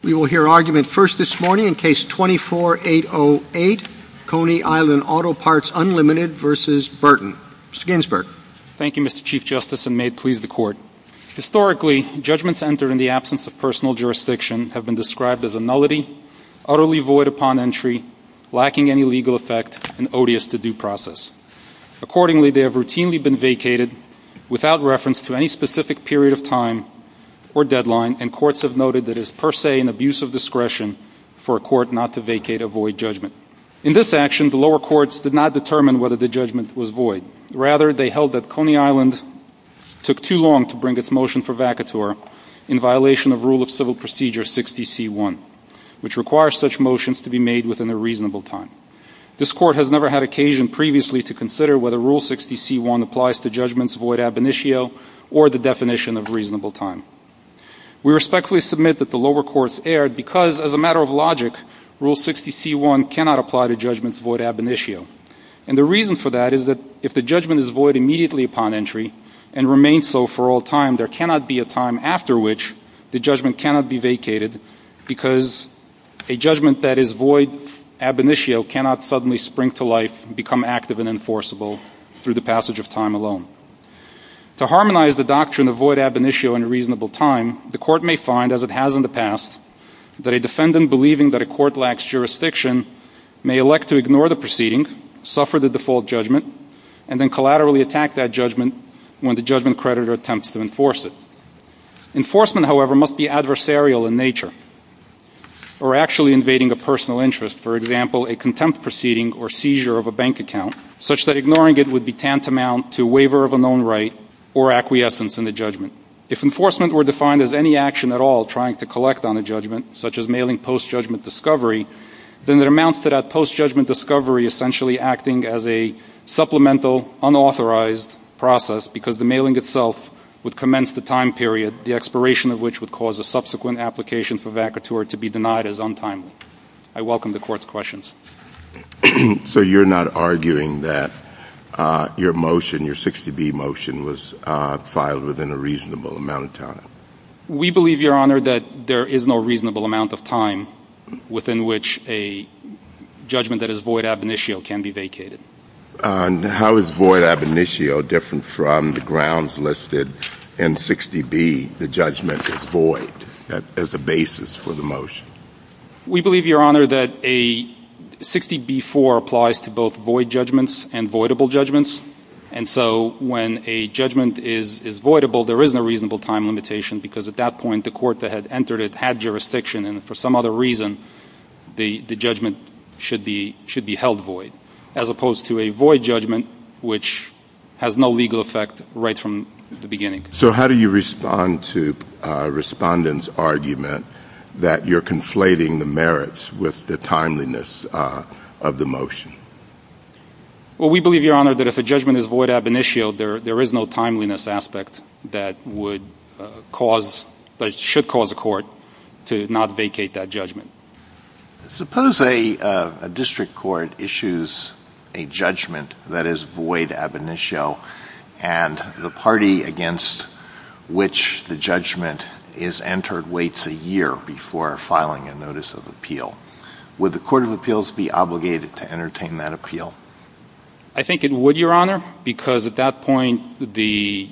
We will hear argument first this morning in Case 24-808, Coney Island Auto Parts, Unlimited, v. Burton. Mr. Ginsburg. Thank you, Mr. Chief Justice, and may it please the Court. Historically, judgments entered in the absence of personal jurisdiction have been described as a nullity, utterly void upon entry, lacking any legal effect, and odious to due process. Accordingly, they have routinely been vacated without reference to any specific period of discretion for a court not to vacate a void judgment. In this action, the lower courts did not determine whether the judgment was void. Rather, they held that Coney Island took too long to bring its motion for vacatur in violation of Rule of Civil Procedure 60C1, which requires such motions to be made within a reasonable time. This Court has never had occasion previously to consider whether Rule 60C1 applies to judgments void ab initio or the definition of reasonable time. We respectfully submit that the lower courts erred because, as a matter of logic, Rule 60C1 cannot apply to judgments void ab initio, and the reason for that is that if the judgment is void immediately upon entry and remains so for all time, there cannot be a time after which the judgment cannot be vacated because a judgment that is void ab initio cannot suddenly spring to life and become active and enforceable through the passage of time alone. To harmonize the doctrine of void ab initio and reasonable time, the Court may find, as it has in the past, that a defendant believing that a court lacks jurisdiction may elect to ignore the proceeding, suffer the default judgment, and then collaterally attack that judgment when the judgment creditor attempts to enforce it. Enforcement, however, must be adversarial in nature or actually invading a personal interest, for example, a contempt proceeding or seizure of a bank account, such that ignoring it would be tantamount to a waiver of a known right or acquiescence in the judgment. If enforcement were defined as any action at all trying to collect on a judgment, such as mailing post-judgment discovery, then it amounts to that post-judgment discovery essentially acting as a supplemental, unauthorized process because the mailing itself would commence the time period, the expiration of which would cause a subsequent application for vacatur to be denied as untimely. I welcome the Court's questions. So you're not arguing that your motion, your 60B motion, was filed within a reasonable amount of time? We believe, Your Honor, that there is no reasonable amount of time within which a judgment that is void ab initio can be vacated. How is void ab initio different from the grounds listed in 60B, the judgment is void, as a basis for the motion? We believe, Your Honor, that a 60B-4 applies to both void judgments and voidable judgments. And so when a judgment is voidable, there isn't a reasonable time limitation because at that point, the court that had entered it had jurisdiction and for some other reason, the judgment should be held void, as opposed to a void judgment, which has no legal effect right from the beginning. So how do you respond to a respondent's argument that you're conflating the merits with the timeliness of the motion? Well, we believe, Your Honor, that if a judgment is void ab initio, there is no timeliness aspect that would cause, that should cause a court to not vacate that judgment. Suppose a district court issues a judgment that is void ab initio and the party against which the judgment is entered waits a year before filing a notice of appeal. Would the court of appeals be obligated to entertain that appeal? I think it would, Your Honor, because at that point, the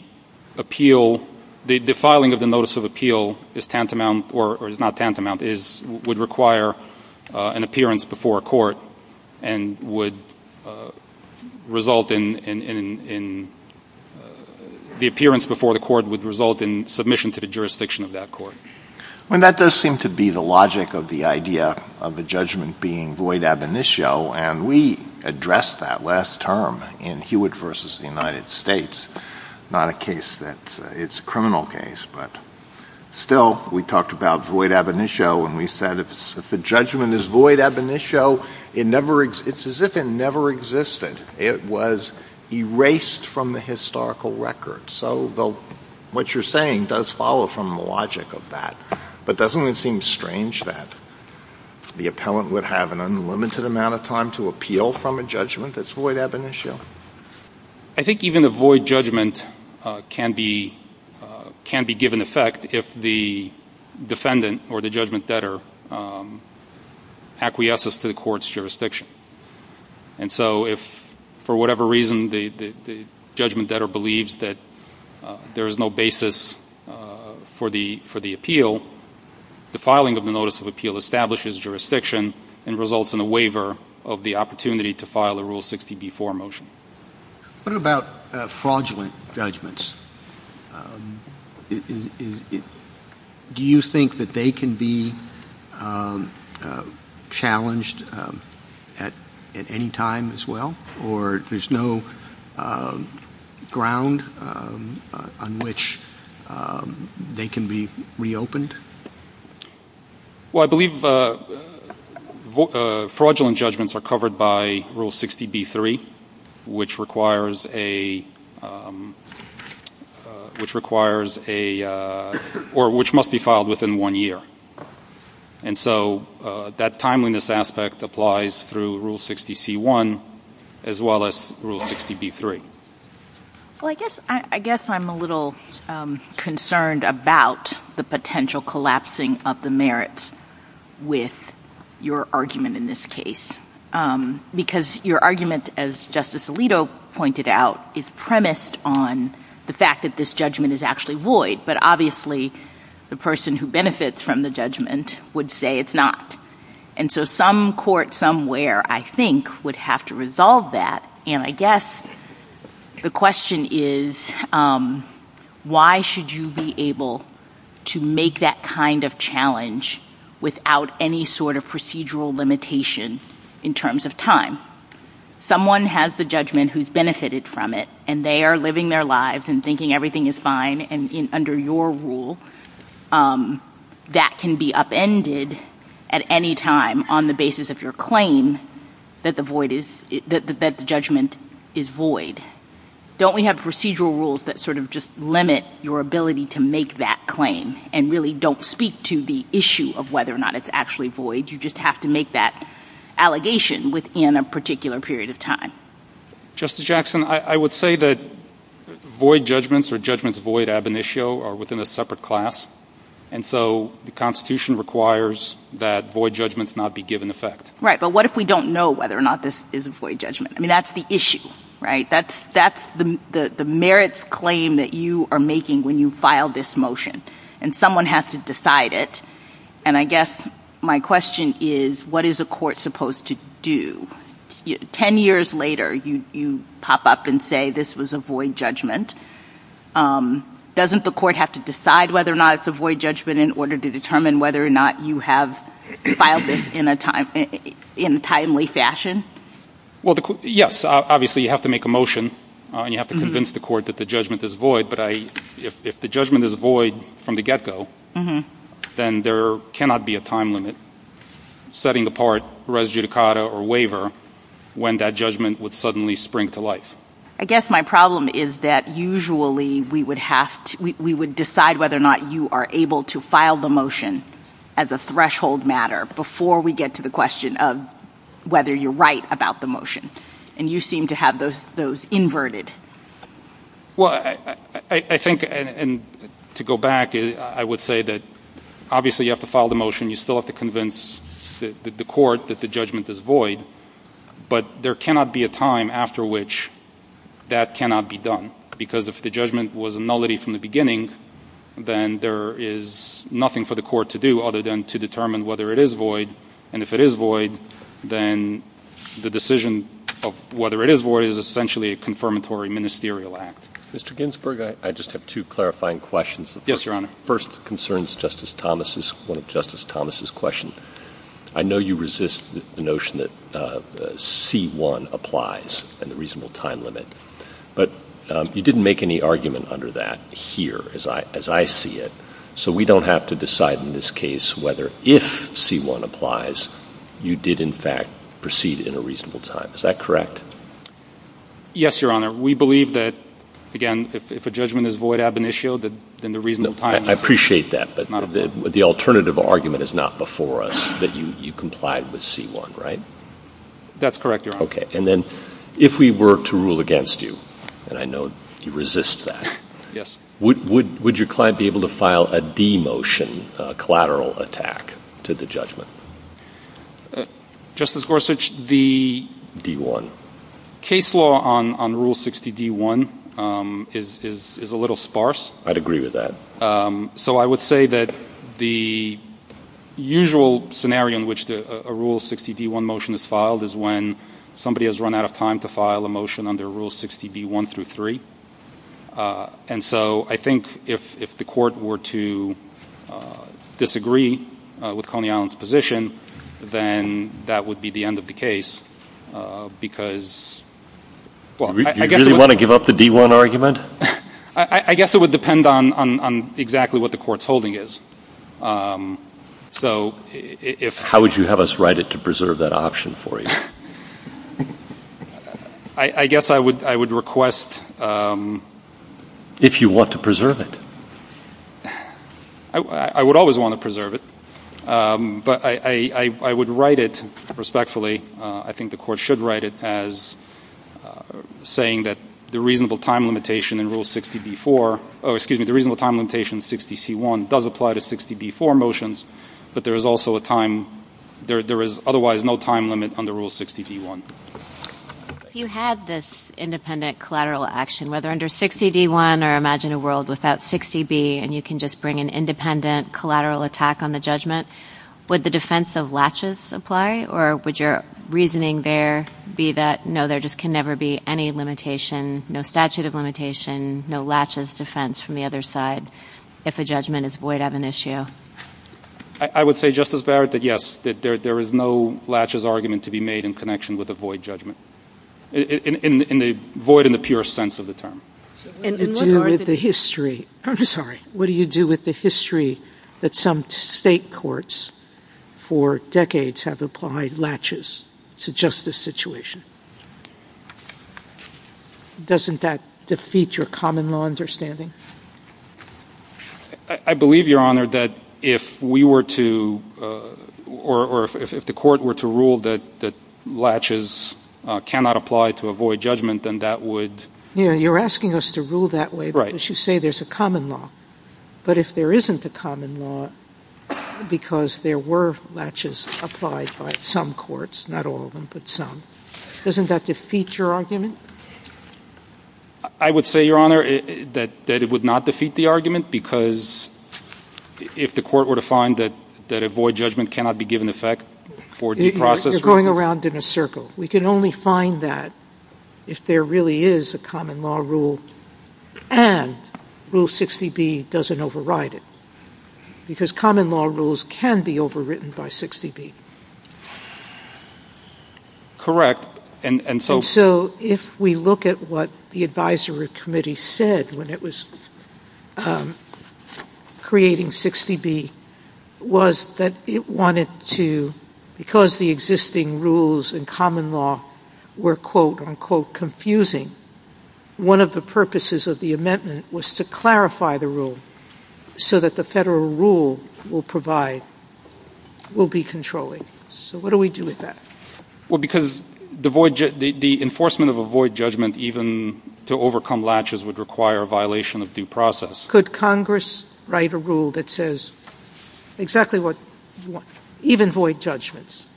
appeal, the filing of the notice of appeal is tantamount, or is not tantamount, is, would require an appearance before a court and would result in, the appearance before the court would result in submission to the jurisdiction of that court. Well, that does seem to be the logic of the idea of a judgment being void ab initio, and we addressed that last term in Hewitt v. The United States, not a case that, it's a criminal case, but still, we talked about void ab initio and we said if a judgment is void ab initio, it never, it's as if it never existed. It was erased from the historical record. So the, what you're saying does follow from the logic of that, but doesn't it seem strange that the appellant would have an unlimited amount of time to appeal from a judgment that's void ab initio? I think even a void judgment can be, can be given effect if the defendant or the judgment debtor acquiesces to the court's jurisdiction. And so if, for whatever reason, the, the, the judgment debtor believes that there is no basis for the, for the appeal, the filing of the notice of appeal establishes jurisdiction and results in a waiver of the opportunity to file a Rule 60b-4 motion. What about fraudulent judgments? Do you think that they can be challenged at, at any time as well? Or there's no ground on which they can be reopened? Well, I believe fraudulent judgments are covered by Rule 60b-3, which requires a, which requires a, or which must be filed within one year. And so that timeliness aspect applies through Rule 60c-1 as well as Rule 60b-3. Well, I guess, I guess I'm a little concerned about the potential collapsing of the merits with your argument in this case. Because your argument, as Justice Alito pointed out, is premised on the fact that this judgment is actually void. But obviously, the person who benefits from the judgment would say it's not. And so some court somewhere, I think, would have to resolve that. And I guess the question is, why should you be able to make that kind of challenge without any sort of procedural limitation in terms of time? Someone has the judgment who's benefited from it, and they are living their lives and thinking everything is fine, and under your rule, that can be upended at any time on the basis of your claim that the void is, that the judgment is void. Don't we have procedural rules that sort of just limit your ability to make that claim and really don't speak to the issue of whether or not it's actually void? You just have to make that allegation within a particular period of time. Justice Jackson, I would say that void judgments or judgments void ab initio are within a separate class. And so the Constitution requires that void judgments not be given effect. Right. But what if we don't know whether or not this is a void judgment? I mean, that's the issue, right? That's the merits claim that you are making when you file this motion, and someone has to decide it. And I guess my question is, what is a court supposed to do? Ten years later, you pop up and say this was a void judgment. Doesn't the court have to decide whether or not it's a void judgment in order to determine whether or not you have filed this in a timely fashion? Well, yes. Obviously, you have to make a motion, and you have to convince the court that the judgment is void. But if the judgment is void from the get-go, then there cannot be a time limit setting apart res judicata or waiver when that judgment would suddenly spring to life. I guess my problem is that usually we would have to — we would decide whether or not you are able to file the motion as a threshold matter before we get to the question of whether you're right about the motion. And you seem to have those inverted. Well, I think — and to go back, I would say that obviously you have to file the motion. You still have to convince the court that the judgment is void. But there cannot be a time after which that cannot be done. Because if the judgment was a nullity from the beginning, then there is nothing for the court to do other than to determine whether it is void. And if it is void, then the decision of whether it is void is essentially a confirmatory ministerial act. Mr. Ginsburg, I just have two clarifying questions. Yes, Your Honor. The first concerns Justice Thomas' — one of Justice Thomas' questions. I know you resist the notion that C-1 applies and the reasonable time limit. But you didn't make any argument under that here, as I see it. So we don't have to decide in this case whether if C-1 applies, you did in fact proceed in a reasonable time. Is that correct? Yes, Your Honor. We believe that, again, if a judgment is void ab initio, then the reasonable time — I appreciate that. But the alternative argument is not before us that you complied with C-1, right? That's correct, Your Honor. Okay. And then if we were to rule against you — and I know you resist that — would your client be able to file a demotion, a collateral attack to the judgment? Justice Gorsuch, the — D-1. — case law on Rule 60 D-1 is a little sparse. I'd agree with that. So I would say that the usual scenario in which a Rule 60 D-1 motion is filed is when somebody has run out of time to file a motion under Rule 60 D-1 through 3. And so I think if the Court were to disagree with Coney Allen's position, then that would be the end of the case because — Do you really want to give up the D-1 argument? I guess it would depend on exactly what the Court's holding is. So if — How would you have us write it to preserve that option for you? I guess I would request — If you want to preserve it. I would always want to preserve it. But I would write it respectfully — I think the Court should write it as saying that the reasonable time limitation in Rule 60 D-4 — oh, excuse me, the reasonable time limitation in 60 C-1 does apply to 60 D-4 motions, but there is also a time — there is otherwise no time limit under Rule 60 D-1. If you had this independent collateral action, whether under 60 D-1 or imagine a world without 60 B, and you can just bring an independent collateral attack on the judgment, would the defense of latches apply, or would your reasoning there be that, no, there just can never be any limitation, no statute of limitation, no latches defense from the other side if a judgment is void of an issue? I would say, Justice Barrett, that yes, that there is no latches argument to be made in connection with a void judgment — void in the purest sense of the term. So what do you do with the history — I'm sorry — what do you do with the history that some state courts for decades have applied latches to justice situation? Doesn't that defeat your common law understanding? I believe, Your Honor, that if we were to — or if the court were to rule that latches cannot apply to a void judgment, then that would — Yeah, you're asking us to rule that way because you say there's a common law. But if there isn't a common law because there were latches applied by some courts, not all of them, but some, doesn't that defeat your argument? I would say, Your Honor, that it would not defeat the argument because if the court were to find that a void judgment cannot be given effect for due process reasons — You're going around in a circle. We can only find that if there really is a common law rule and Rule 60B doesn't override it because common law rules can be overwritten by 60B. Correct. And so — And so if we look at what the Advisory Committee said when it was creating 60B was that it wanted to — because the existing rules in common law were, quote, unquote, confusing, one of the purposes of the amendment was to clarify the rule so that the federal rule will provide — will be controlling. So what do we do with that? Well, because the enforcement of a void judgment even to overcome latches would require a violation of due process. Could Congress write a rule that says exactly what you want, even void judgments,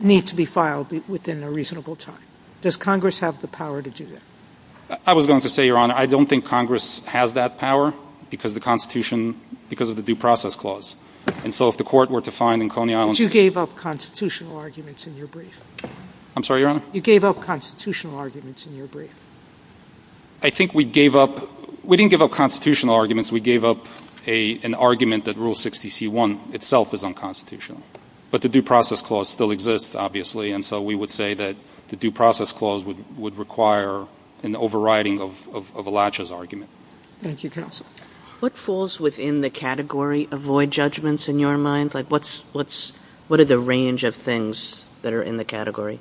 need to be filed within a reasonable time? Does Congress have the power to do that? I was going to say, Your Honor, I don't think Congress has that power because the Constitution — because of the due process clause. And so if the court were to find in Coney Island — But you gave up constitutional arguments in your brief. I'm sorry, Your Honor? You gave up constitutional arguments in your brief. I think we gave up — we didn't give up constitutional arguments. We gave up an argument that Rule 60C1 itself is unconstitutional. But the due process clause still exists, obviously. And so we would say that the due process clause would require an overriding of a latches argument. Thank you, counsel. What falls within the category of void judgments in your mind? Like what's — what are the range of things that are in the category?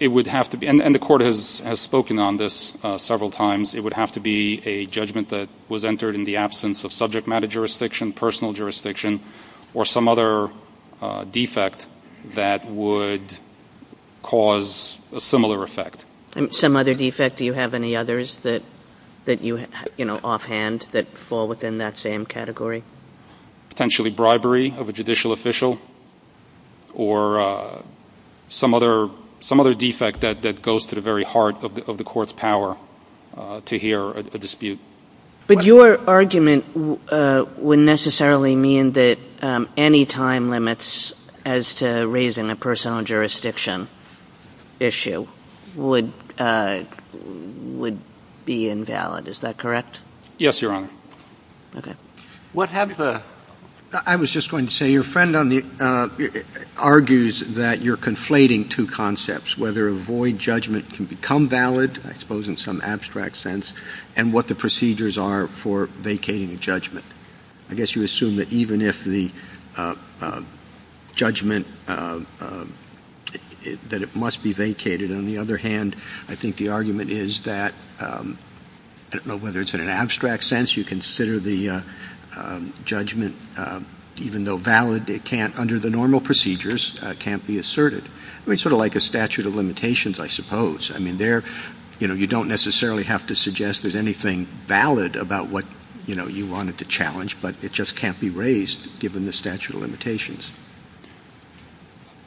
It would have to be — and the court has spoken on this several times. It would have to be a judgment that was entered in the absence of subject matter jurisdiction, personal jurisdiction, or some other defect that would cause a similar effect. Some other defect? Do you have any others that — that you — you know, offhand that fall within that same category? Potentially bribery of a judicial official or some other — some other defect that goes to the very heart of the court's power to hear a dispute. But your argument would necessarily mean that any time limits as to raising a personal jurisdiction issue would — would be invalid. Is that correct? Yes, Your Honor. Okay. What have the — I was just going to say, your friend on the — argues that you're conflating two concepts, whether a void judgment can become valid, I suppose in some abstract sense, and what the procedures are for vacating a judgment. I guess you assume that even if the judgment — that it must be vacated. On the other hand, I think the argument is that — I don't know whether it's in an abstract sense you consider the judgment, even though valid, it can't — under the normal procedures, can't be asserted. I mean, sort of like a statute of limitations, I suppose. I mean, there — you know, you don't necessarily have to suggest there's anything valid about what, you know, you wanted to challenge, but it just can't be raised given the statute of limitations.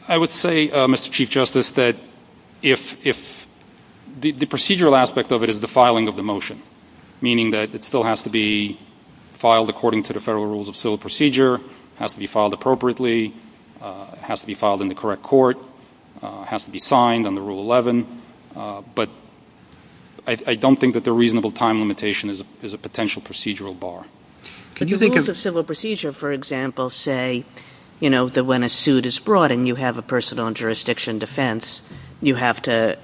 I would say, Mr. Chief Justice, that if — the procedural aspect of it is the filing of the motion, meaning that it still has to be filed according to the federal rules of civil procedure, has to be filed appropriately, has to be filed in the correct court, has to be signed under Rule 11, but I don't think that the reasonable time limitation is a potential procedural bar. Can you think of — But the rules of civil procedure, for example, say, you know, that when a suit is brought and you have a person on jurisdiction defense, you have to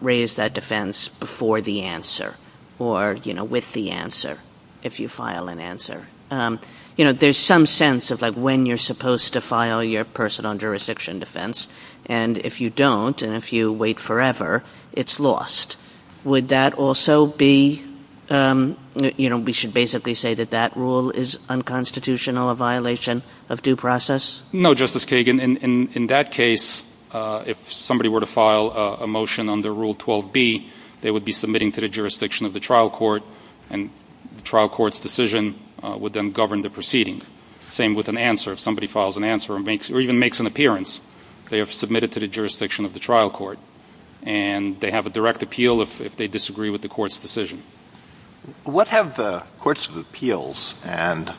raise that defense before the answer or, you know, with the answer, if you file an answer. You know, there's some sense of, like, when you're supposed to file your person on jurisdiction defense, and if you don't, and if you wait forever, it's lost. Would that also be — you know, we should basically say that that rule is unconstitutional, a violation of due process? No, Justice Kagan. In that case, if somebody were to file a motion under Rule 12b, they would be submitting to the jurisdiction of the trial court, and the trial court's decision would then govern the proceeding. Same with an answer. If somebody files an answer or makes — or even makes an appearance, they are submitted to the jurisdiction of the trial court, and they have a direct appeal if they disagree with the court's decision. What have the courts of appeals and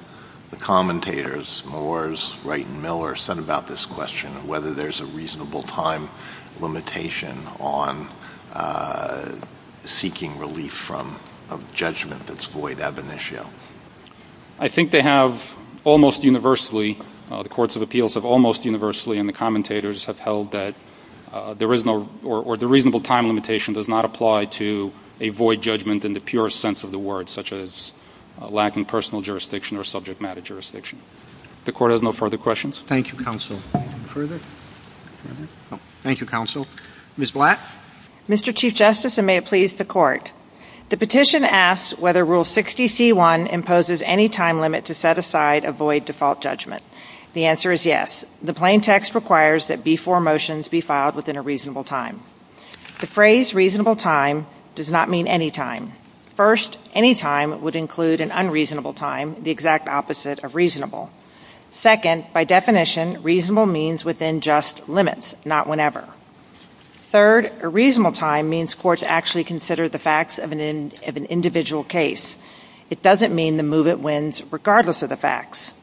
the commentators — Moores, Wright, and Miller — said about this question, whether there's a reasonable time limitation on seeking relief from a judgment that's void ab initio? I think they have almost universally — the courts of appeals have almost universally and the commentators have held that there is no — or the reasonable time limitation does not apply to a void judgment in the purest sense of the word, such as a lack in personal jurisdiction or subject matter jurisdiction. The Court has no further questions. Thank you, Counsel. Further? Thank you, Counsel. Ms. Blatt? Mr. Chief Justice, and may it please the Court, the petition asks whether Rule 60c1 imposes any time limit to set aside a void default judgment. The answer is yes. The plain text requires that B-4 motions be filed within a reasonable time. The phrase reasonable time does not mean any time. First, any time would include an unreasonable time, the exact opposite of reasonable. Second, by definition, reasonable means within just limits, not whenever. Third, a reasonable time means courts actually consider the facts of an individual case. It doesn't mean the move it wins regardless of the facts.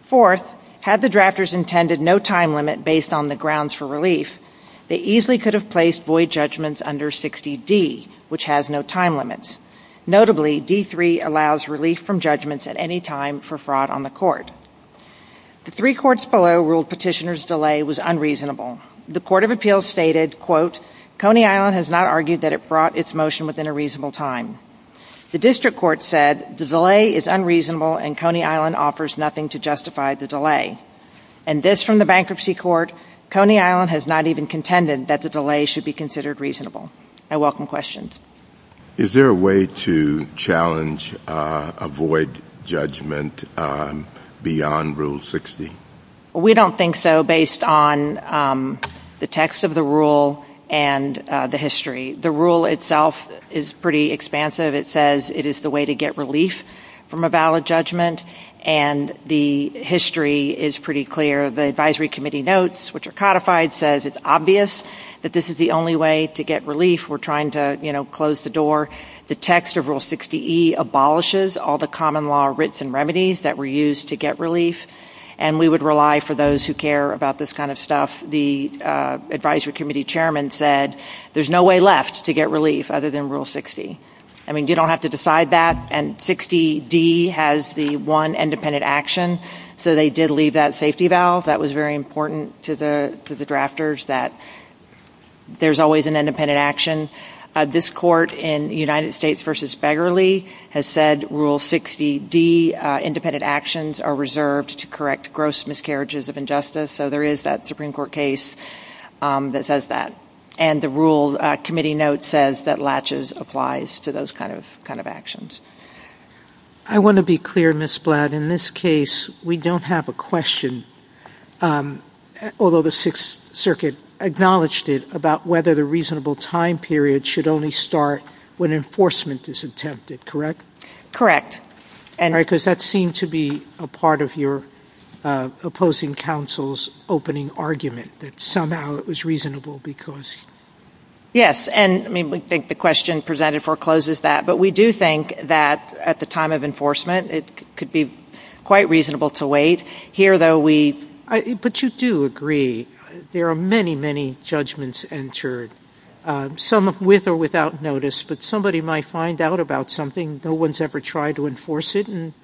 Fourth, had the drafters intended no time limit based on the grounds for relief, they easily could have placed void judgments under 60d, which has no time limits. Notably, D-3 allows relief from judgments at any time for fraud on the court. The three courts below ruled petitioner's delay was unreasonable. The Court of Appeals stated, quote, Coney Island has not argued that it brought its motion within a reasonable time. The District Court said the delay is unreasonable and Coney Island offers nothing to justify the delay. And this from the Bankruptcy Court, Coney Island has not even contended that the delay should be considered reasonable. I welcome questions. Is there a way to challenge a void judgment beyond Rule 60? We don't think so based on the text of the rule and the history. The rule itself is pretty expansive. It says it is the way to get relief from a valid judgment, and the history is pretty clear. The advisory committee notes, which are codified, says it's obvious that this is the only way to get relief. We're trying to close the door. The text of Rule 60E abolishes all the common law writs and remedies that were used to get relief. And we would rely for those who care about this kind of stuff. The advisory committee chairman said, there's no way left to get relief other than Rule 60. I mean, you don't have to decide that, and 60D has the one independent action. So they did leave that safety valve. That was very important to the drafters, that there's always an independent action. This court in United States versus Begerle has said, Rule 60D, independent actions are reserved to correct gross miscarriages of injustice. So there is that Supreme Court case that says that. And the rule committee note says that latches applies to those kind of actions. I want to be clear, Ms. Blatt. In this case, we don't have a question, although the Sixth Circuit acknowledged it, about whether the reasonable time period should only start when enforcement is attempted, correct? Correct. All right, because that seemed to be a part of your opposing counsel's opening argument, that somehow it was reasonable because- Yes, and I mean, we think the question presented forecloses that. But we do think that at the time of enforcement, it could be quite reasonable to wait. Here, though, we- But you do agree, there are many, many judgments entered, some with or without notice. But somebody might find out about something, no one's ever tried to enforce it, and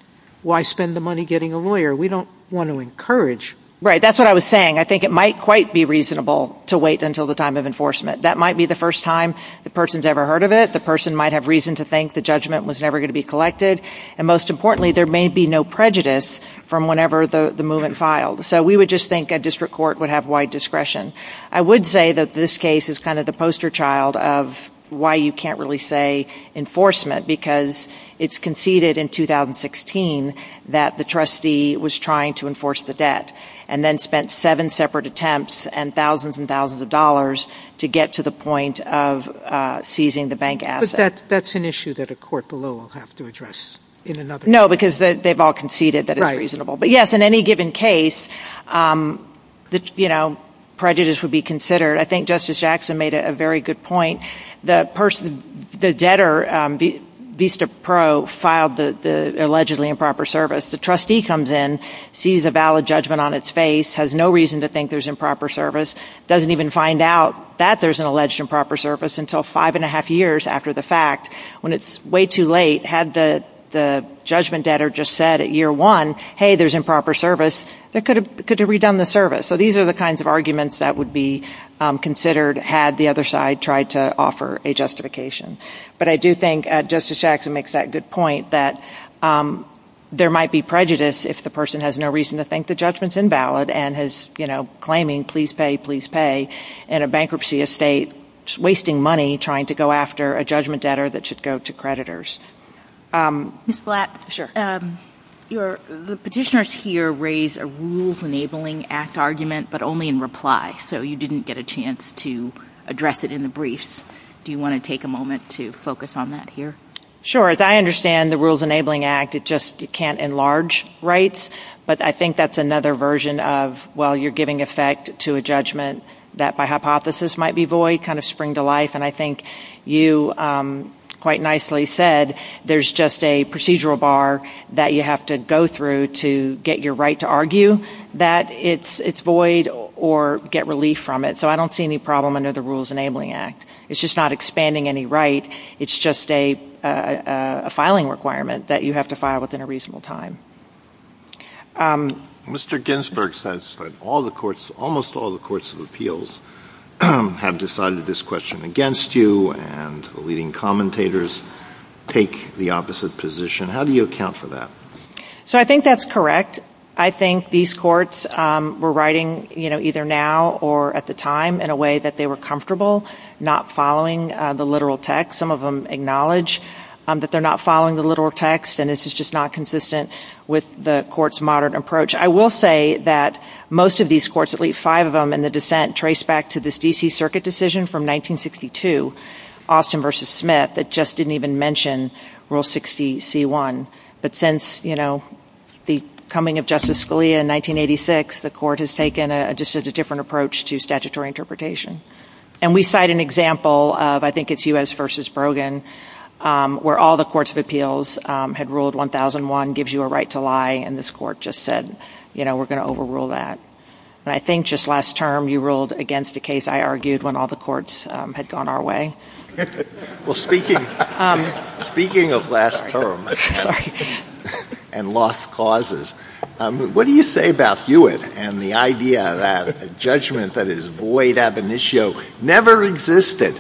why spend the money getting a lawyer? We don't want to encourage- Right, that's what I was saying. I think it might quite be reasonable to wait until the time of enforcement. That might be the first time the person's ever heard of it. The person might have reason to think the judgment was never going to be collected. And most importantly, there may be no prejudice from whenever the movement filed. So we would just think a district court would have wide discretion. I would say that this case is kind of the poster child of why you can't really say enforcement, because it's conceded in 2016 that the trustee was trying to enforce the debt, and then spent seven separate attempts and thousands and thousands of dollars to get to the point of seizing the bank asset. But that's an issue that a court below will have to address in another- No, because they've all conceded that it's reasonable. But yes, in any given case, prejudice would be considered. I think Justice Jackson made a very good point. The debtor, Vista Pro, filed the allegedly improper service. The trustee comes in, sees a valid judgment on its face, has no reason to think there's improper service, doesn't even find out that there's an alleged improper service until five and a half years after the fact. When it's way too late, had the judgment debtor just said at year one, hey, there's improper service, they could have redone the service. So these are the kinds of arguments that would be considered had the other side tried to offer a justification. But I do think Justice Jackson makes that good point that there might be prejudice if the person has no reason to think the judgment's invalid and is claiming please pay, please pay in a bankruptcy estate, wasting money trying to go after a judgment debtor that should go to creditors. Ms. Blatt, the petitioners here raise a Rules Enabling Act argument, but only in reply, so you didn't get a chance to address it in the briefs. Do you want to take a moment to focus on that here? Sure. I understand the Rules Enabling Act, it just can't enlarge rights. But I think that's another version of, well, you're giving effect to a judgment that by hypothesis might be void, kind of spring to life. And I think you quite nicely said there's just a procedural bar that you have to go through to get your right to argue that it's void or get relief from it. So I don't see any problem under the Rules Enabling Act. It's just not expanding any right, it's just a filing requirement that you have to file within a reasonable time. Mr. Ginsberg says that all the courts, almost all the courts of appeals have decided this question against you and the leading commentators take the opposite position. How do you account for that? So I think that's correct. I think these courts were writing, you know, either now or at the time in a way that they were comfortable not following the literal text. Some of them acknowledge that they're not following the literal text and this is just not consistent with the court's modern approach. I will say that most of these courts, at least five of them in the dissent, trace back to this D.C. Circuit decision from 1962, Austin versus Smith, that just didn't even mention Rule 60C1. But since, you know, the coming of Justice Scalia in 1986, the court has taken just a different approach to statutory interpretation. And we cite an example of, I think it's U.S. versus Brogan, where all the courts of appeals had ruled 1001 gives you a right to lie and this court just said, you know, we're going to overrule that. And I think just last term you ruled against a case I argued when all the courts had gone our way. Well, speaking of last term and lost causes, what do you say about Hewitt and the idea that a judgment that is void ab initio never existed?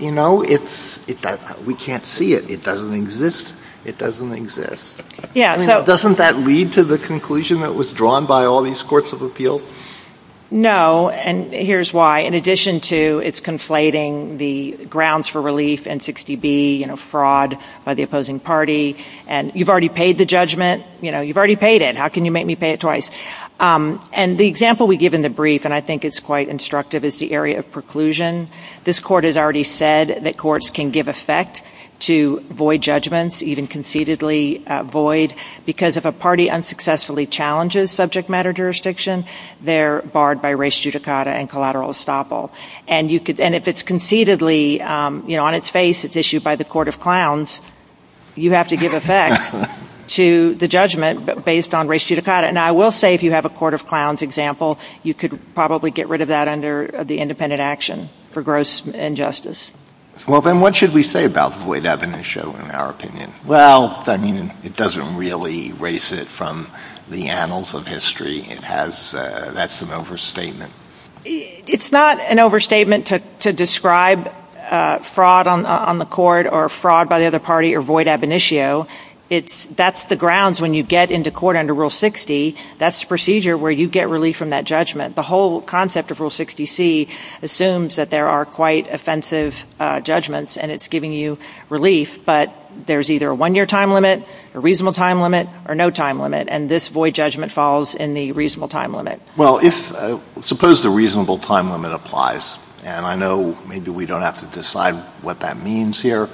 You know, we can't see it. It doesn't exist. It doesn't exist. I mean, doesn't that lead to the conclusion that was drawn by all these courts of appeals? No, and here's why. In addition to its conflating the grounds for relief in 60B, you know, fraud by the opposing party, and you've already paid the judgment. You know, you've already paid it. How can you make me pay it twice? And the example we give in the brief, and I think it's quite instructive, is the area of preclusion. This court has already said that courts can give effect to void judgments, even concededly void, because if a party unsuccessfully challenges subject matter jurisdiction, they're barred by res judicata and collateral estoppel. And if it's concededly, you know, on its face, it's issued by the court of clowns, you have to give effect to the judgment based on res judicata. And I will say if you have a court of clowns example, you could probably get rid of that under the independent action for gross injustice. Well, then what should we say about void ab initio in our opinion? Well, I mean, it doesn't really erase it from the annals of history. It has, that's an overstatement. It's not an overstatement to describe fraud on the court or fraud by the other party or void ab initio. It's, that's the grounds when you get into court under Rule 60. That's the procedure where you get relief from that judgment. The whole concept of Rule 60C assumes that there are quite offensive judgments and it's giving you relief, but there's either a one-year time limit, a reasonable time limit, or no time limit. And this void judgment falls in the reasonable time limit. Well, if, suppose the reasonable time limit applies, and I know maybe we don't have to decide what that means here,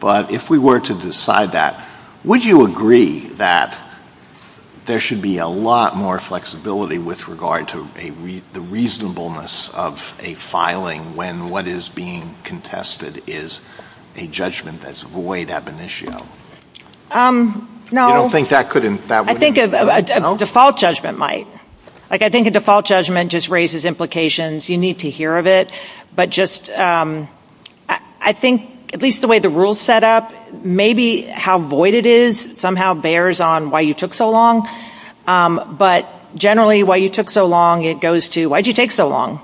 but if we were to decide that, would you agree that there should be a lot more flexibility with regard to the reasonableness of a filing when what is being contested is a judgment that's void ab initio? No. You don't think that couldn't, that wouldn't? I think a default judgment might. Like I think a default judgment just raises implications. You need to hear of it. But just, I think at least the way the rule's set up, maybe how void it is somehow bears on why you took so long, but generally why you took so long, it goes to, why'd you take so long?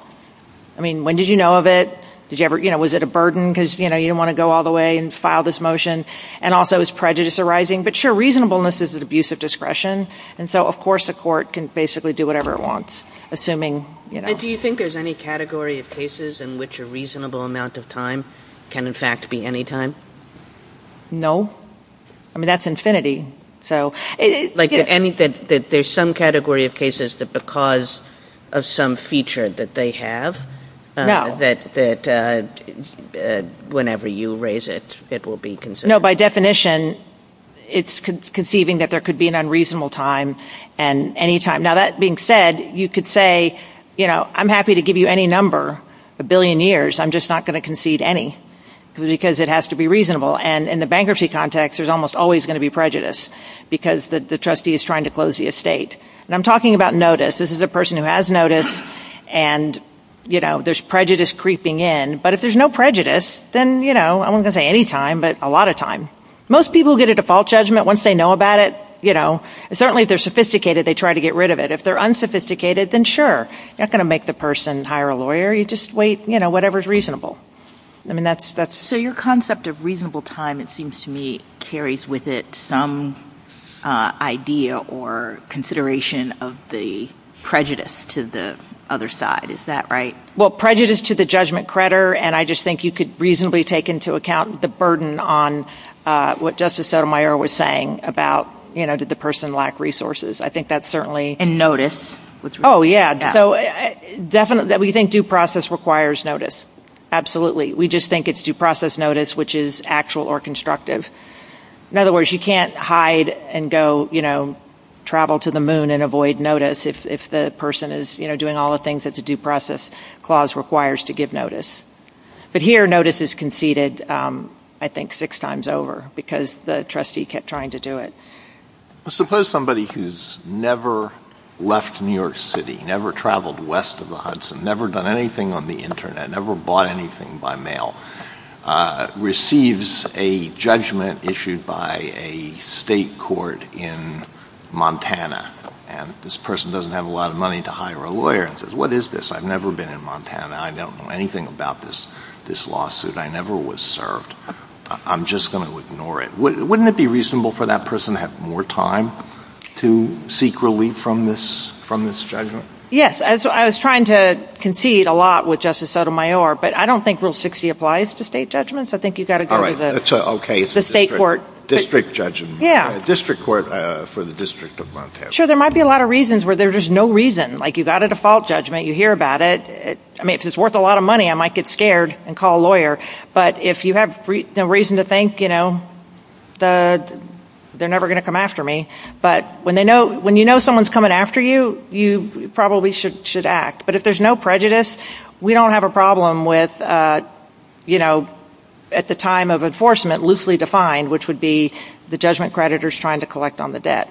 I mean, when did you know of it? Was it a burden because you didn't want to go all the way and file this motion? And also, is prejudice arising? But sure, reasonableness is an abuse of discretion, and so of course a court can basically do whatever it wants, assuming, you know. And do you think there's any category of cases in which a reasonable amount of time can in fact be any time? No. I mean, that's infinity. Like, there's some category of cases that because of some feature that they have, that whenever you raise it, it will be considered. No, by definition, it's conceiving that there could be an unreasonable time, and any time. Now that being said, you could say, you know, I'm happy to give you any number, a billion years, I'm just not going to concede any, because it has to be reasonable. And in the bankruptcy context, there's almost always going to be prejudice, because the trustee is trying to close the estate. And I'm talking about notice. This is a person who has notice, and, you know, there's prejudice creeping in. But if there's no prejudice, then, you know, I wasn't going to say any time, but a lot of time. Most people get a default judgment once they know about it, you know. And certainly if they're sophisticated, they try to get rid of it. If they're unsophisticated, then sure, you're not going to make the person hire a lawyer. You just wait, you know, whatever's reasonable. I mean, that's... So your concept of reasonable time, it seems to me, carries with it some idea or consideration of the prejudice to the other side. Is that right? Well, prejudice to the judgment creditor, and I just think you could reasonably take into account the burden on what Justice Sotomayor was saying about, you know, did the person lack resources. I think that's certainly... And notice. Oh, yeah. So definitely, we think due process requires notice. Absolutely. We just think it's due process notice, which is actual or constructive. In other words, you can't hide and go, you know, travel to the moon and avoid notice if the person is, you know, doing all the things that the due process clause requires to give notice. But here, notice is conceded, I think, six times over because the trustee kept trying to do it. Suppose somebody who's never left New York City, never traveled west of the Hudson, never done anything on the internet, never bought anything by mail, receives a judgment issued by a state court in Montana, and this person doesn't have a lot of money to hire a lawyer and says, what is this? I've never been in Montana. I don't know anything about this lawsuit. I never was served. I'm just going to ignore it. Wouldn't it be reasonable for that person to have more time to seek relief from this judgment? Yes. I was trying to concede a lot with Justice Sotomayor, but I don't think Rule 60 applies to state judgments. I think you've got to go to the state court. It's a district judgment. Yeah. A district court for the District of Montana. Sure. There might be a lot of reasons where there's no reason. Like you've got a default judgment. You hear about it. I mean, if it's worth a lot of money, I might get scared and call a lawyer. But if you have reason to think, you know, they're never going to come after me. But when you know someone's coming after you, you probably should act. But if there's no prejudice, we don't have a problem with, you know, at the time of enforcement, loosely defined, which would be the judgment creditors trying to collect on the debt.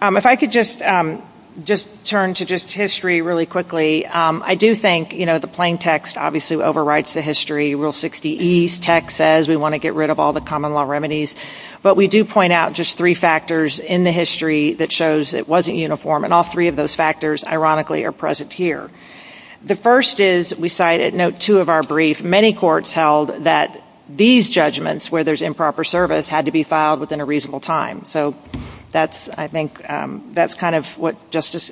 If I could just turn to just history really quickly, I do think, you know, the plain text obviously overrides the history. Rule 60E's text says we want to get rid of all the common law remedies. But we do point out just three factors in the history that shows it wasn't uniform. And all three of those factors, ironically, are present here. The first is, we cite at note two of our brief, many courts held that these judgments where there's improper service had to be filed within a reasonable time. So that's, I think, that's kind of what Justice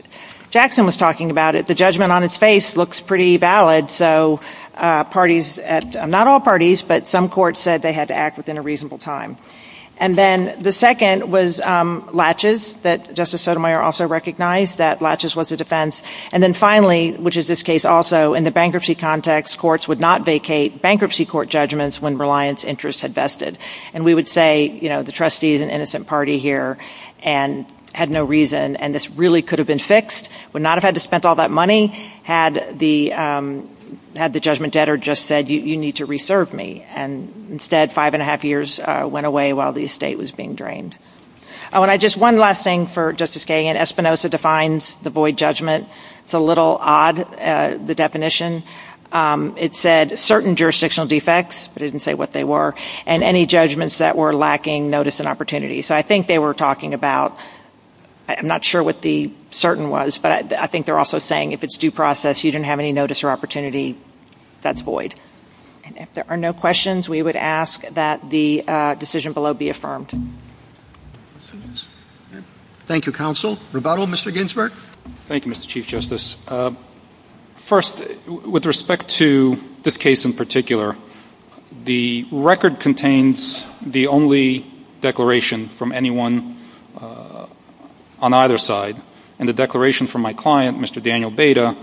Jackson was talking about. The judgment on its face looks pretty valid. So parties, not all parties, but some courts said they had to act within a reasonable time. And then the second was latches, that Justice Sotomayor also recognized, that latches was a defense. And then finally, which is this case also, in the bankruptcy context, courts would not vacate bankruptcy court judgments when reliance interest had vested. And we would say, you know, the trustee is an innocent party here and had no reason. And this really could have been fixed, would not have had to spent all that money, had the judgment debtor just said, you need to reserve me. And instead, five and a half years went away while the estate was being drained. Oh, and I just, one last thing for Justice Kagan, Espinosa defines the void judgment. It's a little odd, the definition. It said, certain jurisdictional defects, but it didn't say what they were, and any judgments that were lacking notice and opportunity. So I think they were talking about, I'm not sure what the certain was, but I think they're also saying, if it's due process, you didn't have any notice or opportunity, that's void. And if there are no questions, we would ask that the decision below be affirmed. Thank you, counsel. Rebuttal, Mr. Ginsberg. Thank you, Mr. Chief Justice. First, with respect to this case in particular, the record contains the only declaration from anyone on either side, and the declaration from my client, Mr. Daniel Beda,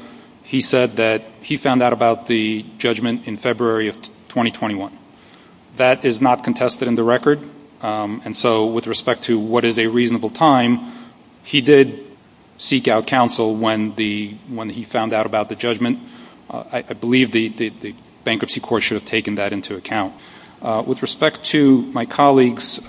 he said that he found out about the judgment in February of 2021. That is not contested in the record, and so with respect to what is a reasonable time, he did seek out counsel when he found out about the judgment. I believe the bankruptcy court should have taken that into account. With respect to my colleague's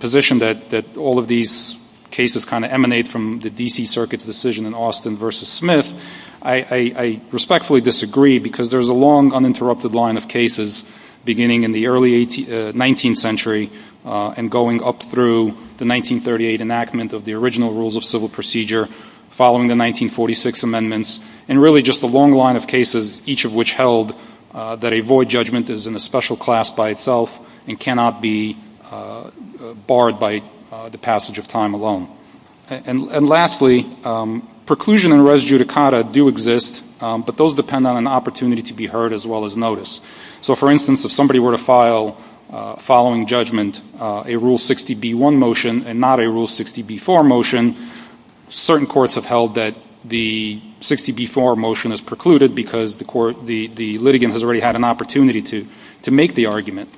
position that all of these cases kind of emanate from the D.C. Circuit's decision in Austin v. Smith, I respectfully disagree, because there's a long uninterrupted line of cases beginning in the early 19th century and going up through the 1938 enactment of the original rules of civil procedure following the 1946 amendments, and really just a long line of cases, each of which held that a void judgment is in a special class by itself and cannot be barred by the passage of time alone. And lastly, preclusion and res judicata do exist, but those depend on an opportunity to be heard as well as noticed. So for instance, if somebody were to file following judgment a Rule 60b-1 motion and not a Rule 60b-4 motion, certain courts have held that the 60b-4 motion is precluded because the litigant has already had an opportunity to make the argument.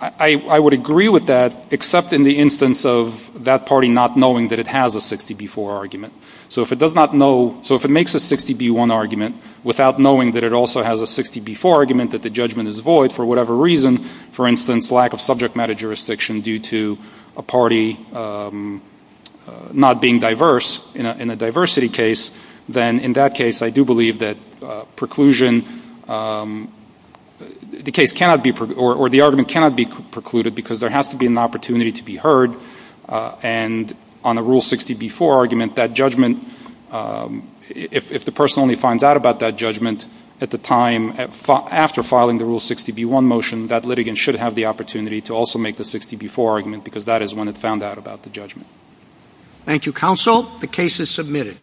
I would agree with that, except in the instance of that party not knowing that it has a 60b-4 argument. So if it does not know ‑‑ so if it makes a 60b-1 argument without knowing that it also has a 60b-4 argument, that the judgment is void for whatever reason, for instance, lack of subject matter jurisdiction due to a party not being diverse in a diversity case, then in that case, I do believe that preclusion ‑‑ the case cannot be ‑‑ or the argument cannot be precluded because there has to be an opportunity to be heard, and on a Rule 60b-4 argument, that judgment, if the person only finds out about that judgment at the time after filing the Rule 60b-1 motion, that litigant should have the opportunity to also make the 60b-4 argument because that is when it found out about the judgment. Thank you, counsel. The case is submitted.